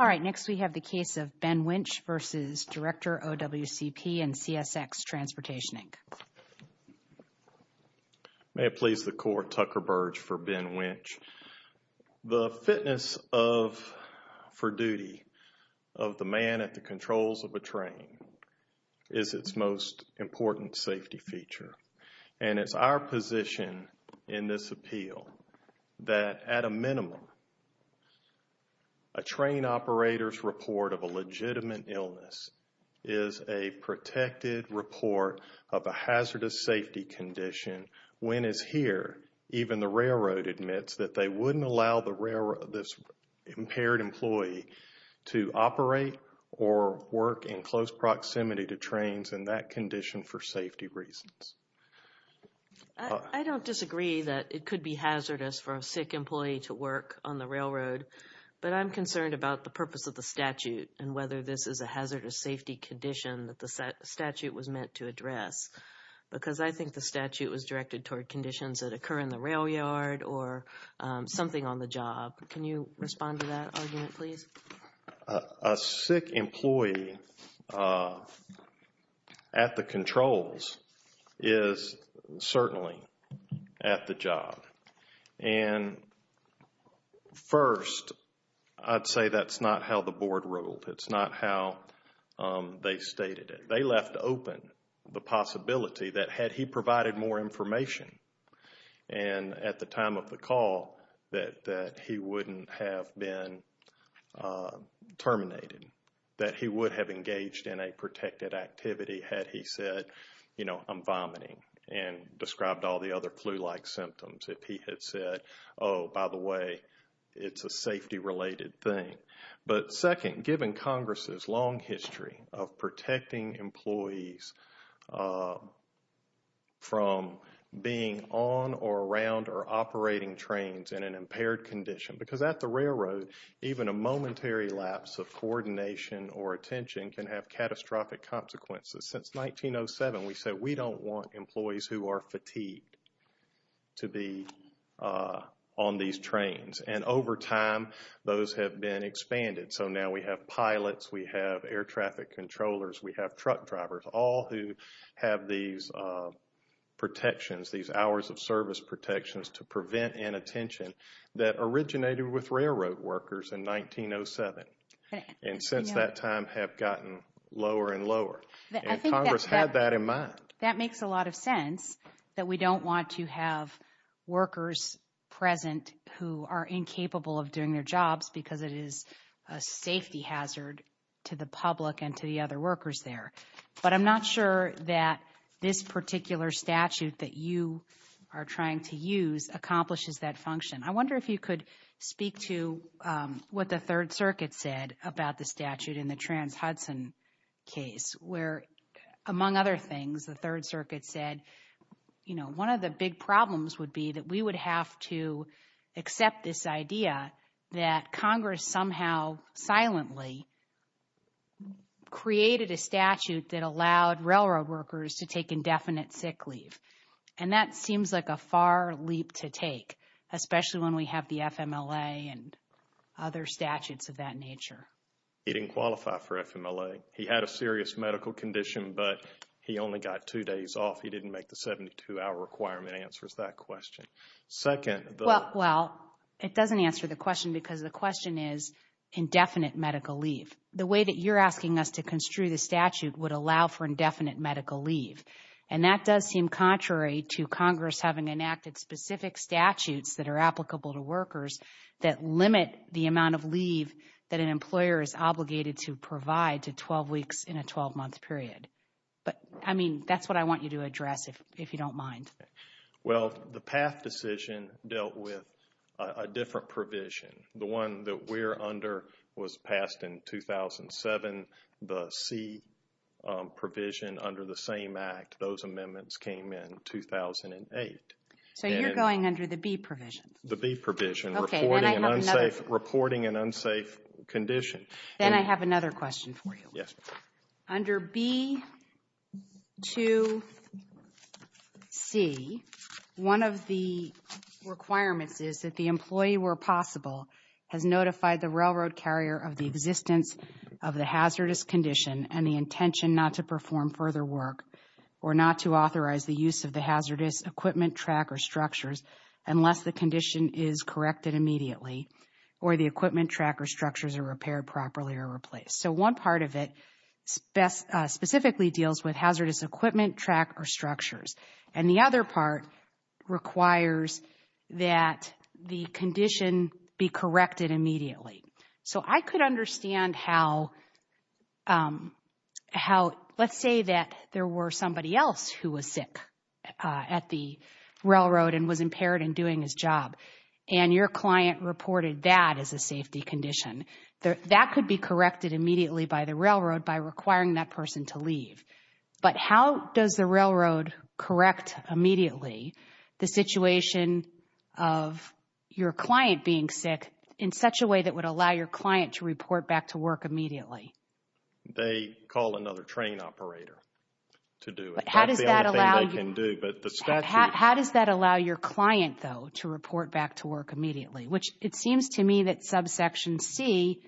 All right, next we have the case of Ben Winch v. Director, OWCP, and CSX Transportation, Inc. May it please the Court, Tucker Burge for Ben Winch. The fitness for duty of the man at the controls of a train is its most important safety feature. And it's our position in this appeal that at a minimum, a train operator's report of a legitimate illness is a protected report of a hazardous safety condition. When it's here, even the railroad admits that they wouldn't allow this impaired employee to operate or work in close proximity to trains in that condition for safety reasons. I don't disagree that it could be hazardous for a sick employee to work on the railroad, but I'm concerned about the purpose of the statute and whether this is a hazardous safety condition that the statute was meant to address. Because I think the statute was directed toward conditions that occur in the railyard or something on the job. Can you respond to that argument, please? A sick employee at the controls is certainly at the job. And first, I'd say that's not how the board ruled. It's not how they stated it. They left open the possibility that had he provided more information, and at the time of the call, that he wouldn't have been terminated, that he would have engaged in a protected activity had he said, you know, I'm vomiting and described all the other flu-like symptoms. If he had said, oh, by the way, it's a safety-related thing. But second, given Congress's long history of protecting employees from being on or around or operating trains in an impaired condition, because at the railroad, even a momentary lapse of coordination or attention can have catastrophic consequences. Since 1907, we said we don't want employees who are fatigued to be on these trains. And over time, those have been expanded. So now we have pilots, we have air traffic controllers, we have truck drivers, all who have these protections, these hours of service protections to prevent inattention that originated with railroad workers in 1907. And since that time have gotten lower and lower. And Congress had that in mind. That makes a lot of sense, that we don't want to have workers present who are incapable of doing their jobs because it is a safety hazard to the public and to the other workers there. But I'm not sure that this particular statute that you are trying to use accomplishes that function. I wonder if you could speak to what the Third Circuit said about the statute in the Trans-Hudson case where, among other things, the Third Circuit said, you know, one of the big problems would be that we would have to accept this idea that Congress somehow silently created a statute that allowed railroad workers to take indefinite sick leave. And that seems like a far leap to take, especially when we have the FMLA and other statutes of that nature. He didn't qualify for FMLA. He had a serious medical condition, but he only got two days off. He didn't make the 72-hour requirement answers that question. Well, it doesn't answer the question because the question is indefinite medical leave. The way that you're asking us to construe the statute would allow for indefinite medical leave. And that does seem contrary to Congress having enacted specific statutes that are applicable to workers that limit the amount of leave that an employer is obligated to provide to 12 weeks in a 12-month period. But, I mean, that's what I want you to address if you don't mind. Well, the PATH decision dealt with a different provision. The one that we're under was passed in 2007. The C provision under the same act, those amendments came in 2008. So you're going under the B provision? The B provision, reporting an unsafe condition. Then I have another question for you. Under B to C, one of the requirements is that the employee, where possible, has notified the railroad carrier of the existence of the hazardous condition and the intention not to perform further work or not to authorize the use of the hazardous equipment, track, or structures unless the condition is corrected immediately or the equipment, track, or structures are repaired properly or replaced. So one part of it specifically deals with hazardous equipment, track, or structures. And the other part requires that the condition be corrected immediately. So I could understand how, let's say that there were somebody else who was sick at the railroad and was impaired in doing his job and your client reported that as a safety condition. That could be corrected immediately by the railroad by requiring that person to leave. But how does the railroad correct immediately the situation of your client being sick in such a way that would allow your client to report back to work immediately? They call another train operator to do it. That's the only thing they can do. How does that allow your client, though, to report back to work immediately? Which it seems to me that subsection C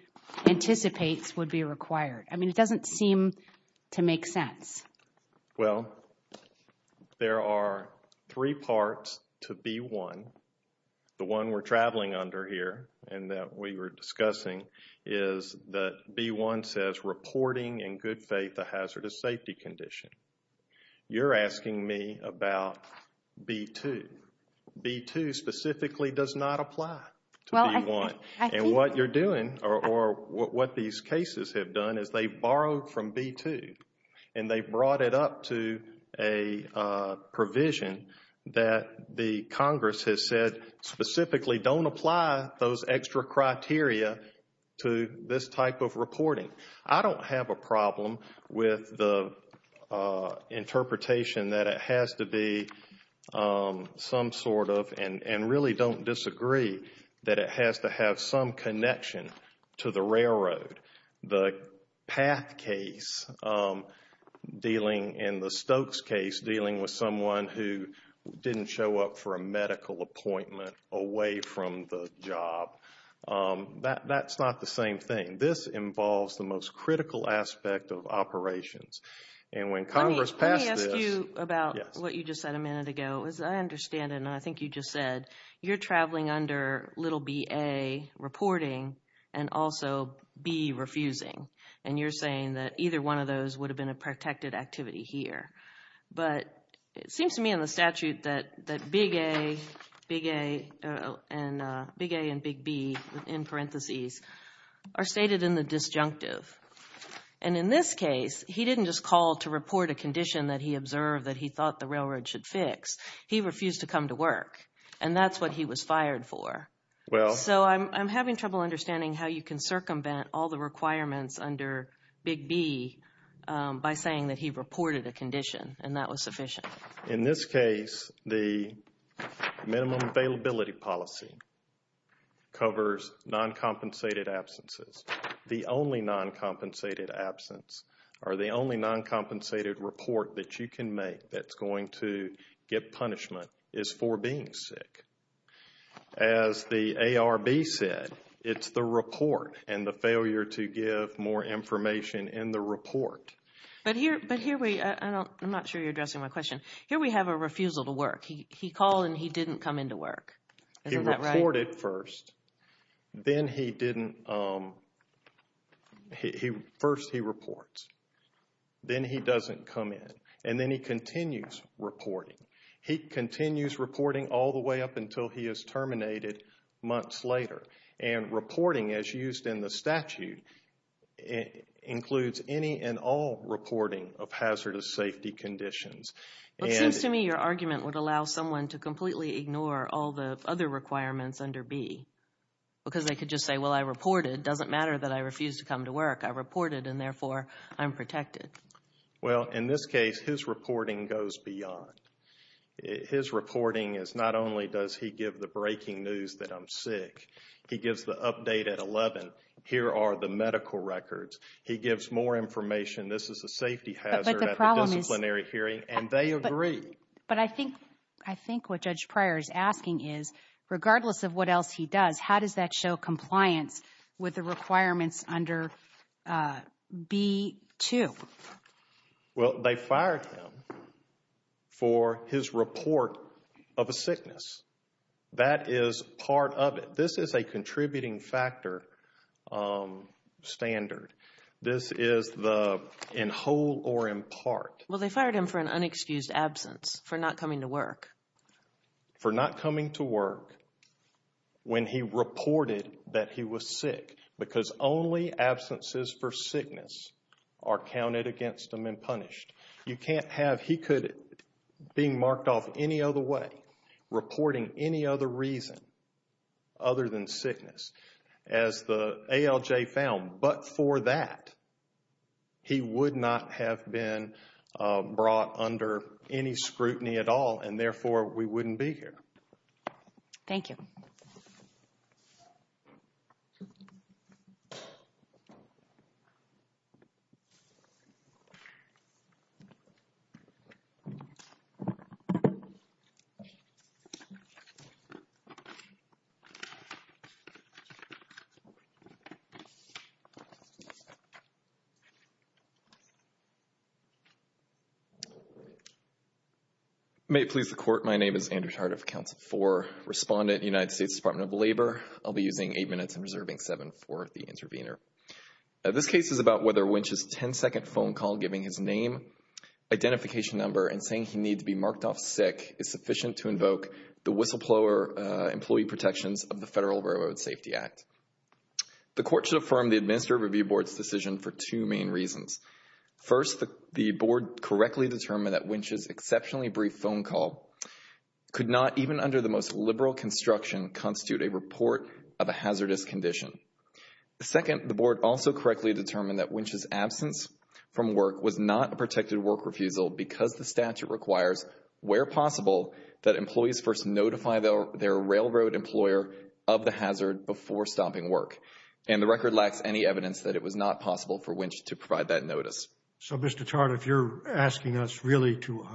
anticipates would be required. I mean, it doesn't seem to make sense. Well, there are three parts to B1. The one we're traveling under here and that we were discussing is that B1 says reporting in good faith a hazardous safety condition. You're asking me about B2. B2 specifically does not apply to B1. And what you're doing or what these cases have done is they've borrowed from B2 and they've brought it up to a provision that the Congress has said specifically don't apply those extra criteria to this type of reporting. I don't have a problem with the interpretation that it has to be some sort of and really don't disagree that it has to have some connection to the railroad. The PATH case dealing and the Stokes case dealing with someone who didn't show up for a medical appointment away from the job. That's not the same thing. This involves the most critical aspect of operations. Let me ask you about what you just said a minute ago. As I understand it, and I think you just said, you're traveling under little bA, reporting, and also B, refusing. And you're saying that either one of those would have been a protected activity here. But it seems to me in the statute that big A and big B in parentheses are stated in the disjunctive. And in this case, he didn't just call to report a condition that he observed that he thought the railroad should fix. He refused to come to work. And that's what he was fired for. So I'm having trouble understanding how you can circumvent all the requirements under big B by saying that he reported a condition and that was sufficient. In this case, the minimum availability policy covers non-compensated absences. The only non-compensated absence or the only non-compensated report that you can make that's going to get punishment is for being sick. As the ARB said, it's the report and the failure to give more information in the report. But here we are. I'm not sure you're addressing my question. Here we have a refusal to work. He called and he didn't come into work. He reported first. Then he didn't. First he reports. Then he doesn't come in. And then he continues reporting. He continues reporting all the way up until he is terminated months later. And reporting, as used in the statute, includes any and all reporting of hazardous safety conditions. It seems to me your argument would allow someone to completely ignore all the other requirements under B. Because they could just say, well, I reported. It doesn't matter that I refused to come to work. I reported and, therefore, I'm protected. Well, in this case, his reporting goes beyond. His reporting is not only does he give the breaking news that I'm sick. He gives the update at 11. Here are the medical records. He gives more information. This is a safety hazard at the disciplinary hearing. And they agree. But I think what Judge Pryor is asking is, regardless of what else he does, how does that show compliance with the requirements under B.2? Well, they fired him for his report of a sickness. That is part of it. This is a contributing factor standard. This is the in whole or in part. Well, they fired him for an unexcused absence, for not coming to work. For not coming to work when he reported that he was sick. Because only absences for sickness are counted against him and punished. You can't have he could being marked off any other way, reporting any other reason other than sickness, as the ALJ found. But for that, he would not have been brought under any scrutiny at all, and, therefore, we wouldn't be here. Thank you. Thank you. May it please the Court, my name is Andrew Tardif, Council 4 Respondent, United States Department of Labor. I'll be using eight minutes and reserving seven for the intervener. This case is about whether Wynch's ten-second phone call giving his name, identification number, and saying he needs to be marked off sick is sufficient to invoke the whistleblower employee protections of the Federal Railroad Safety Act. The Court should affirm the Administrative Review Board's decision for two main reasons. First, the Board correctly determined that Wynch's exceptionally brief phone call could not, even under the most liberal construction, constitute a report of a hazardous condition. Second, the Board also correctly determined that Wynch's absence from work was not a protected work refusal because the statute requires, where possible, that employees first notify their railroad employer of the hazard before stopping work, and the record lacks any evidence that it was not possible for Wynch to provide that notice. So, Mr. Tardif, you're asking us really to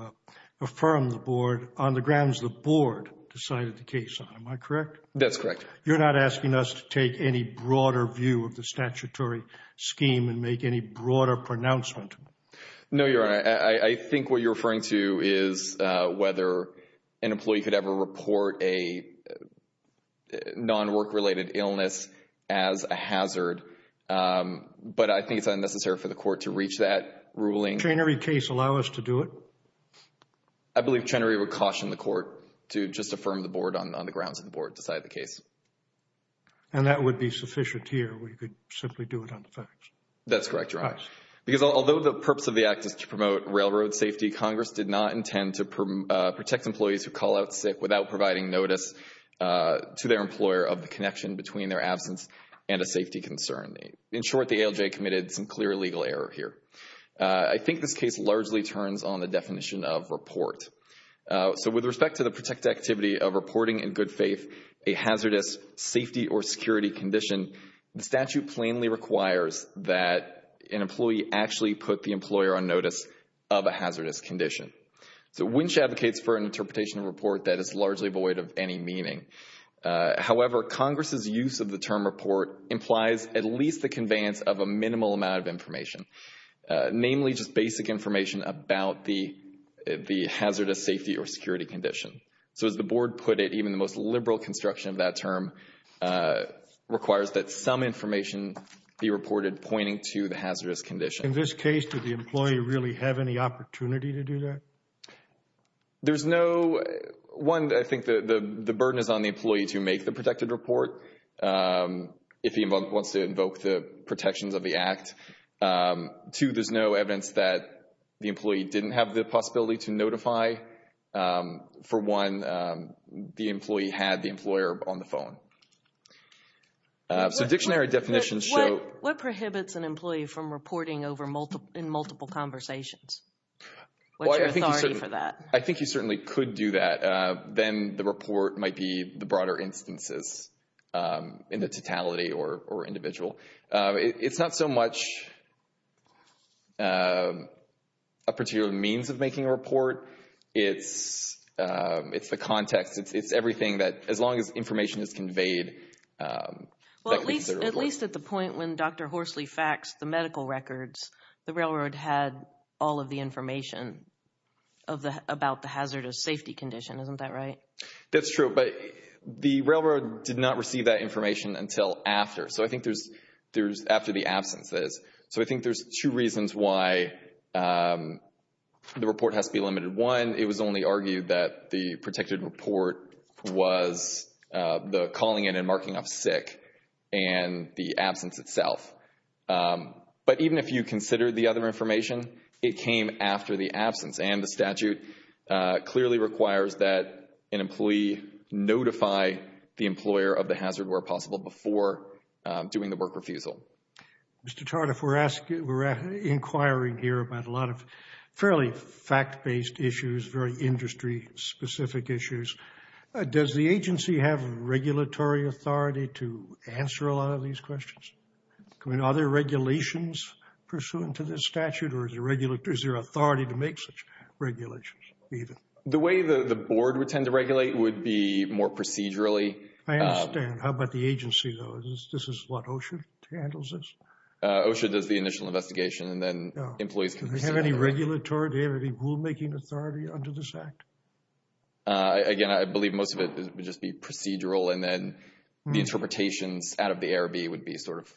affirm the Board on the grounds the Board decided the case on. Am I correct? That's correct. You're not asking us to take any broader view of the statutory scheme and make any broader pronouncement? No, Your Honor. I think what you're referring to is whether an employee could ever report a non-work-related illness as a hazard, but I think it's unnecessary for the Court to reach that ruling. Would a Chenery case allow us to do it? I believe Chenery would caution the Court to just affirm the Board on the grounds that the Board decided the case. And that would be sufficient here. We could simply do it on the facts. That's correct, Your Honor. Because although the purpose of the act is to promote railroad safety, Congress did not intend to protect employees who call out sick without providing notice to their employer of the connection between their absence and a safety concern. In short, the ALJ committed some clear legal error here. I think this case largely turns on the definition of report. So with respect to the protected activity of reporting in good faith a hazardous safety or security condition, the statute plainly requires that an employee actually put the employer on notice of a hazardous condition. So Winch advocates for an interpretation of report that is largely void of any meaning. However, Congress' use of the term report implies at least the conveyance of a minimal amount of information, namely just basic information about the hazardous safety or security condition. So as the Board put it, even the most liberal construction of that term requires that some information be reported pointing to the hazardous condition. In this case, did the employee really have any opportunity to do that? There's no, one, I think the burden is on the employee to make the protected report if he wants to invoke the protections of the act. Two, there's no evidence that the employee didn't have the possibility to notify. For one, the employee had the employer on the phone. So dictionary definitions show. What prohibits an employee from reporting in multiple conversations? What's your authority for that? I think you certainly could do that. Then the report might be the broader instances in the totality or individual. It's not so much a particular means of making a report. It's the context. It's everything that, as long as information is conveyed. Well, at least at the point when Dr. Horsley faxed the medical records, the railroad had all of the information about the hazardous safety condition. Isn't that right? That's true. But the railroad did not receive that information until after. So I think there's after the absence is. So I think there's two reasons why the report has to be limited. One, it was only argued that the protected report was the calling in and marking off sick and the absence itself. But even if you consider the other information, it came after the absence. And the statute clearly requires that an employee notify the employer of the hazard where possible before doing the work refusal. Mr. Tardif, we're inquiring here about a lot of fairly fact-based issues, very industry-specific issues. Does the agency have regulatory authority to answer a lot of these questions? I mean, are there regulations pursuant to this statute? Or is there authority to make such regulations? The way the board would tend to regulate would be more procedurally. I understand. How about the agency, though? This is what OSHA handles this? OSHA does the initial investigation, and then employees can. Do they have any regulatory? Do they have any rulemaking authority under this act? Again, I believe most of it would just be procedural. And then the interpretations out of the ARB would be sort of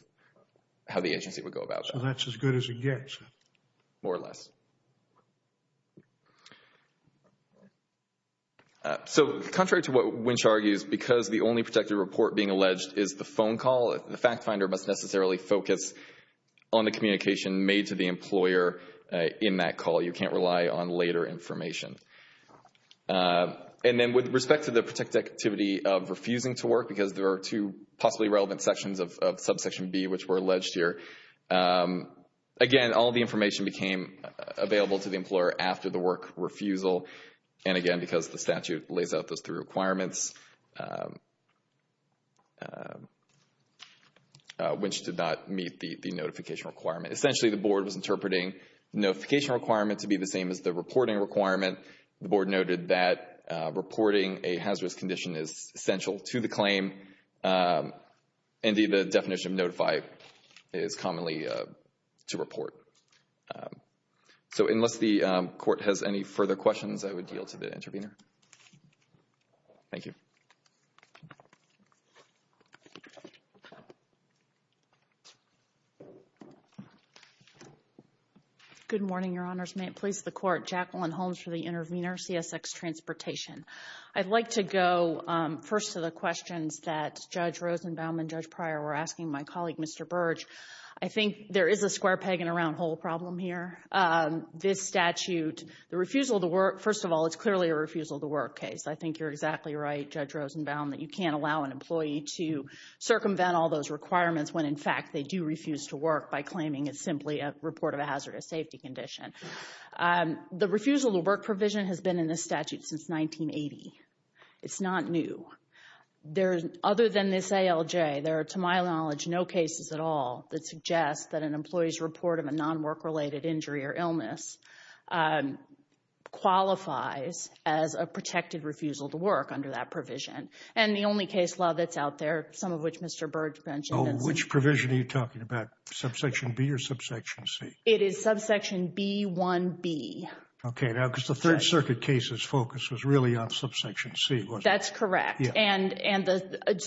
how the agency would go about that. So that's as good as it gets? More or less. So contrary to what Winch argues, because the only protected report being alleged is the phone call, the fact finder must necessarily focus on the communication made to the employer in that call. You can't rely on later information. And then with respect to the protected activity of refusing to work, because there are two possibly relevant sections of subsection B which were alleged here, again, all the information became available to the employer after the work refusal. And again, because the statute lays out those three requirements, Winch did not meet the notification requirement. Essentially, the board was interpreting the notification requirement to be the same as the reporting requirement. The board noted that reporting a hazardous condition is essential to the claim. Indeed, the definition of notify is commonly to report. So unless the court has any further questions, I would yield to the intervener. Thank you. Good morning, Your Honors. May it please the Court. Jacqueline Holmes for the intervener, CSX Transportation. I'd like to go first to the questions that Judge Rosenbaum and Judge Pryor were asking my colleague, Mr. Burge. I think there is a square peg and a round hole problem here. This statute, the refusal to work, first of all, it's clearly a refusal to work case. I think you're exactly right, Judge Rosenbaum, that you can't allow an employee to circumvent all those requirements when, in fact, they do refuse to work by claiming it's simply a report of a hazardous safety condition. The refusal to work provision has been in this statute since 1980. It's not new. Other than this ALJ, there are, to my knowledge, no cases at all that suggest that an employee's report of a non-work related injury or illness qualifies as a protected refusal to work under that provision. And the only case law that's out there, some of which Mr. Burge mentioned. Oh, which provision are you talking about? Subsection B or subsection C? It is subsection B1B. Okay. Now, because the Third Circuit case's focus was really on subsection C, wasn't it? That's correct. And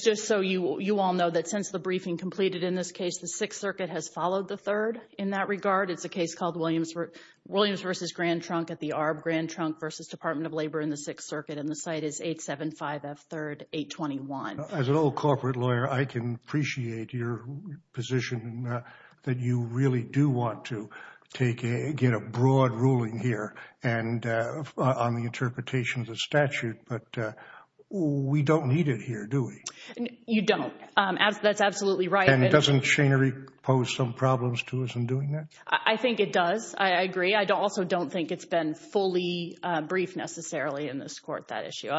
just so you all know that since the briefing completed in this case, the Sixth Circuit has followed the Third in that regard. It's a case called Williams v. Grand Trunk at the Arb. Grand Trunk v. Department of Labor in the Sixth Circuit. And the site is 875F3-821. As an old corporate lawyer, I can appreciate your position that you really do want to get a broad ruling here on the interpretation of the statute. But we don't need it here, do we? You don't. That's absolutely right. And doesn't Schoenery pose some problems to us in doing that? I think it does. I agree. I also don't think it's been fully briefed necessarily in this Court, that issue,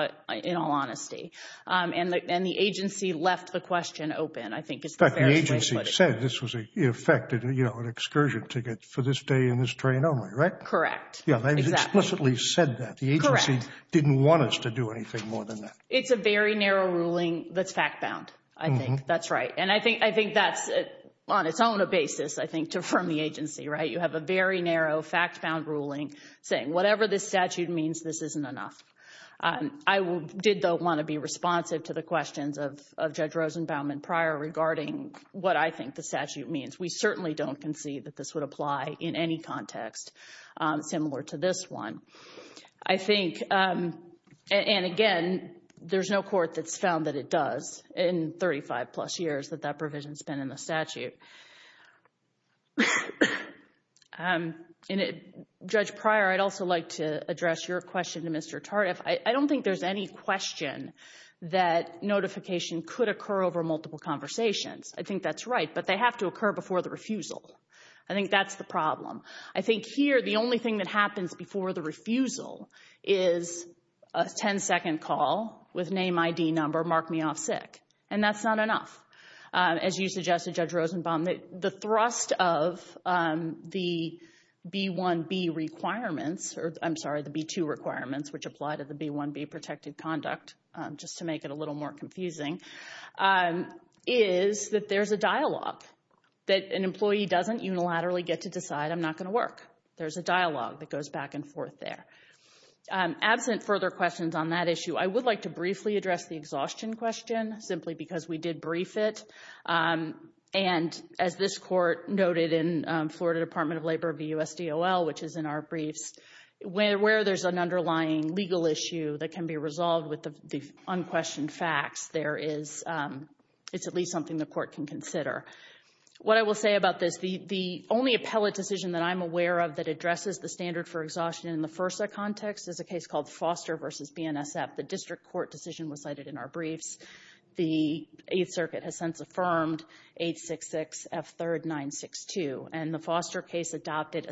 in all honesty. And the agency left the question open. I think it's the fairest way to put it. In fact, the agency said this was, in effect, an excursion ticket for this day and this train only, right? Correct. Yeah, they explicitly said that. Correct. The agency didn't want us to do anything more than that. It's a very narrow ruling that's fact-bound, I think. That's right. And I think that's on its own a basis, I think, to affirm the agency, right? You have a very narrow, fact-bound ruling saying whatever this statute means, this isn't enough. I did, though, want to be responsive to the questions of Judge Rosenbaum and Pryor regarding what I think the statute means. We certainly don't concede that this would apply in any context similar to this one. I think, and again, there's no court that's found that it does in 35-plus years that that provision's been in the statute. Judge Pryor, I'd also like to address your question to Mr. Tardif. I don't think there's any question that notification could occur over multiple conversations. I think that's right, but they have to occur before the refusal. I think that's the problem. I think here the only thing that happens before the refusal is a 10-second call with name, ID, number, mark me off sick, and that's not enough. As you suggested, Judge Rosenbaum, the thrust of the B-1B requirements, or I'm sorry, the B-2 requirements, which apply to the B-1B protected conduct, just to make it a little more confusing, is that there's a dialogue, that an employee doesn't unilaterally get to decide I'm not going to work. There's a dialogue that goes back and forth there. Absent further questions on that issue, I would like to briefly address the exhaustion question, simply because we did brief it. And as this court noted in Florida Department of Labor v. USDOL, which is in our briefs, where there's an underlying legal issue that can be resolved with the unquestioned facts, it's at least something the court can consider. What I will say about this, the only appellate decision that I'm aware of that is a case called Foster v. BNSF. The district court decision was cited in our briefs. The Eighth Circuit has since affirmed 866F3RD962. And the Foster case adopted,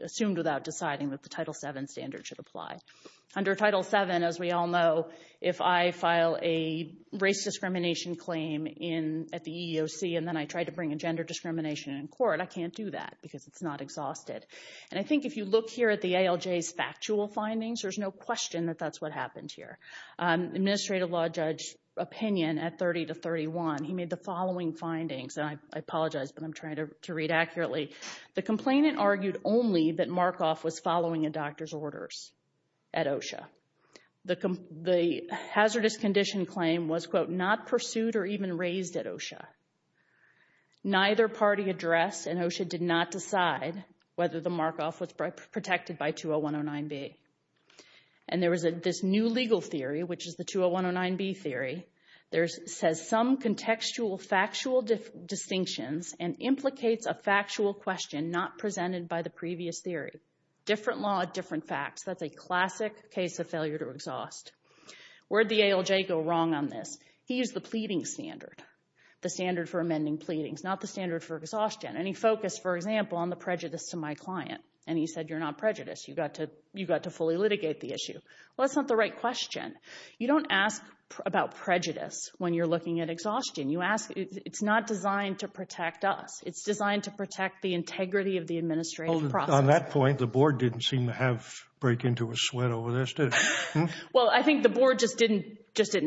assumed without deciding that the Title VII standard should apply. Under Title VII, as we all know, if I file a race discrimination claim at the EEOC and then I try to bring a gender discrimination in court, I can't do that because it's not exhausted. And I think if you look here at the ALJ's factual findings, there's no question that that's what happened here. Administrative law judge opinion at 30 to 31, he made the following findings, and I apologize, but I'm trying to read accurately. The complainant argued only that Markoff was following a doctor's orders at OSHA. The hazardous condition claim was, quote, not pursued or even raised at OSHA. Neither party addressed and OSHA did not decide whether the Markoff was protected by 20109B. And there was this new legal theory, which is the 20109B theory. It says some contextual factual distinctions and implicates a factual question not presented by the previous theory. Different law, different facts. That's a classic case of failure to exhaust. Where did the ALJ go wrong on this? He used the pleading standard, the standard for amending pleadings, not the standard for exhaustion. And he focused, for example, on the prejudice to my client, and he said you're not prejudiced. You've got to fully litigate the issue. Well, that's not the right question. You don't ask about prejudice when you're looking at exhaustion. It's not designed to protect us. It's designed to protect the integrity of the administrative process. On that point, the board didn't seem to have break into a sweat over this, did it? Well, I think the board just didn't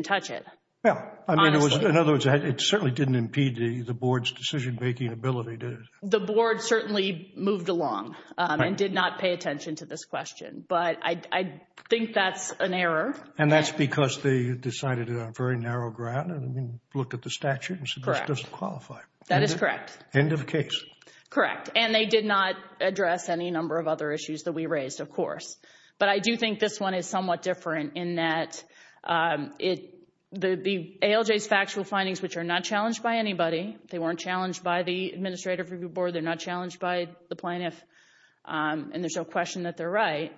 touch it, honestly. In other words, it certainly didn't impede the board's decision-making ability, did it? The board certainly moved along and did not pay attention to this question. But I think that's an error. And that's because they decided on a very narrow ground and looked at the statute and said this doesn't qualify. That is correct. End of case. Correct. And they did not address any number of other issues that we raised, of course. But I do think this one is somewhat different in that the ALJ's factual findings, which are not challenged by anybody, they weren't challenged by the Administrative Review Board, they're not challenged by the plaintiff, and there's no question that they're right,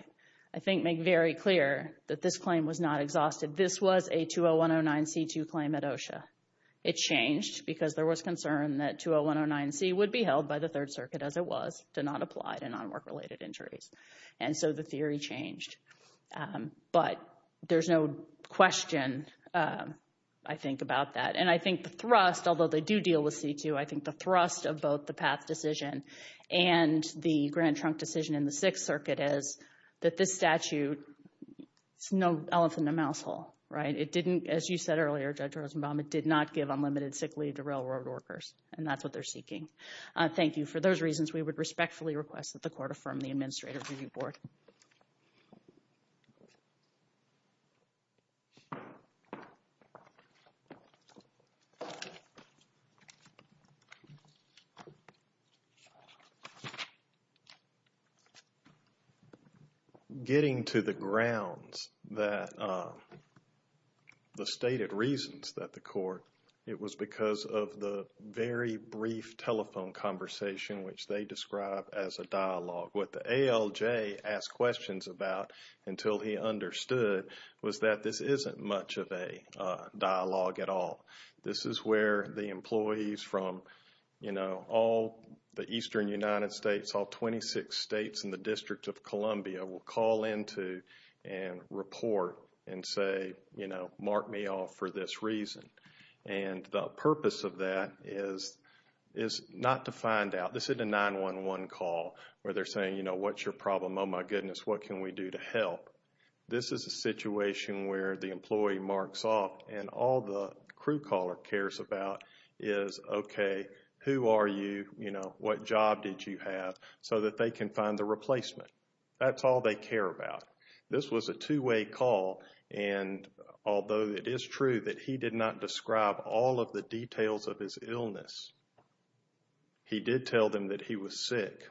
I think make very clear that this claim was not exhausted. This was a 20109C2 claim at OSHA. It changed because there was concern that 20109C would be held by the Third Circuit, as it was, to not apply to non-work-related injuries. And so the theory changed. But there's no question, I think, about that. And I think the thrust, although they do deal with C2, I think the thrust of both the Path decision and the Grant Trunk decision in the Sixth Circuit is that this statute is no elephant in a mouse hole. It didn't, as you said earlier, Judge Rosenbaum, it did not give unlimited sick leave to railroad workers, and that's what they're seeking. Thank you. And for those reasons, we would respectfully request that the Court affirm the Administrative Review Board. Getting to the grounds that the stated reasons that the Court, it was because of the very brief telephone conversation, which they describe as a dialogue. What the ALJ asked questions about until he understood was that this isn't much of a dialogue at all. This is where the employees from, you know, all the eastern United States, all 26 states and the District of Columbia will call into and report and say, you know, mark me off for this reason. And the purpose of that is not to find out, this isn't a 911 call where they're saying, you know, what's your problem, oh my goodness, what can we do to help? This is a situation where the employee marks off and all the crew caller cares about is, okay, who are you, you know, what job did you have, so that they can find the replacement. That's all they care about. This was a two-way call, and although it is true that he did not describe all of the details of his illness, he did tell them that he was sick.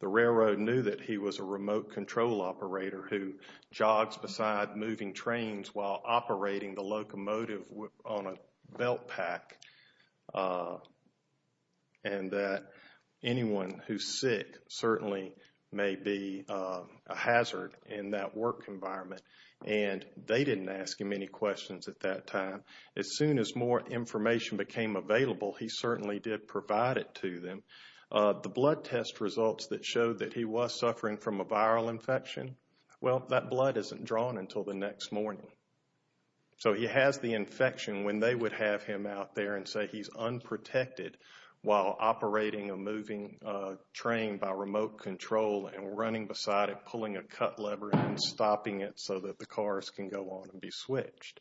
The railroad knew that he was a remote control operator who jogs beside moving trains while operating the locomotive on a belt pack, and that anyone who's sick certainly may be a hazard in that work environment. And they didn't ask him any questions at that time. As soon as more information became available, he certainly did provide it to them. The blood test results that showed that he was suffering from a viral infection, well, that blood isn't drawn until the next morning. So he has the infection when they would have him out there and say he's unprotected while operating a moving train by remote control and running beside it, pulling a cut lever and stopping it so that the cars can go on and be switched.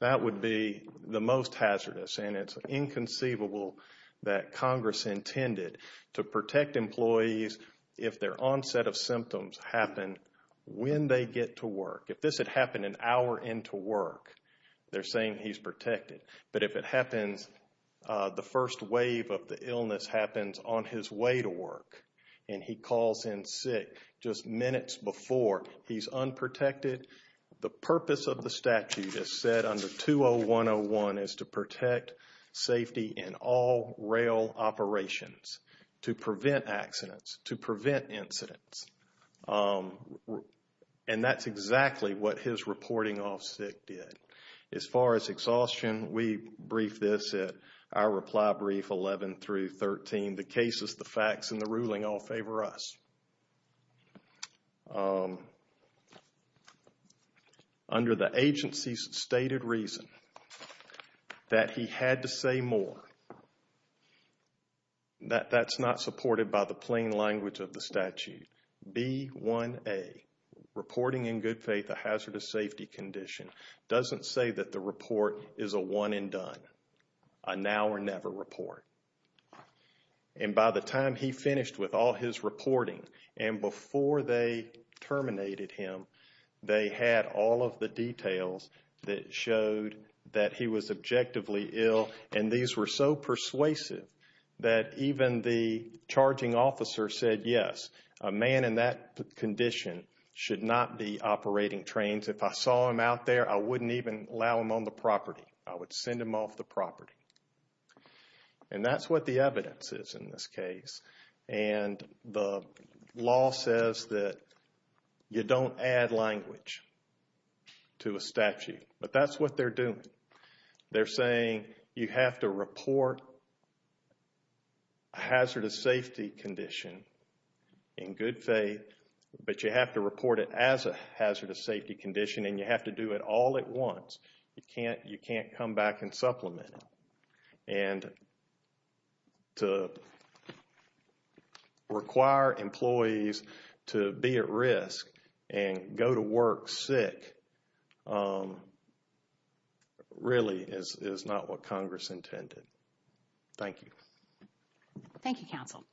That would be the most hazardous, and it's inconceivable that Congress intended to protect employees if their onset of symptoms happened when they get to work. If this had happened an hour into work, they're saying he's protected. But if it happens, the first wave of the illness happens on his way to work, and he calls in sick just minutes before he's unprotected, the purpose of the statute is said under 201.01 is to protect safety in all rail operations, to prevent accidents, to prevent incidents. And that's exactly what his reporting of sick did. As far as exhaustion, we brief this at our reply brief 11 through 13. The cases, the facts, and the ruling all favor us. Under the agency's stated reason that he had to say more, that's not supported by the plain language of the statute. B1A, reporting in good faith a hazardous safety condition, doesn't say that the report is a one and done, a now or never report. And by the time he finished with all his reporting and before they terminated him, they had all of the details that showed that he was objectively ill, and these were so persuasive that even the charging officer said yes, a man in that condition should not be operating trains. If I saw him out there, I wouldn't even allow him on the property. I would send him off the property. And that's what the evidence is in this case. And the law says that you don't add language to a statute. But that's what they're doing. They're saying you have to report a hazardous safety condition in good faith, but you have to report it as a hazardous safety condition, and you have to do it all at once. You can't come back and supplement it. And to require employees to be at risk and go to work sick, really is not what Congress intended. Thank you. Thank you, Counsel.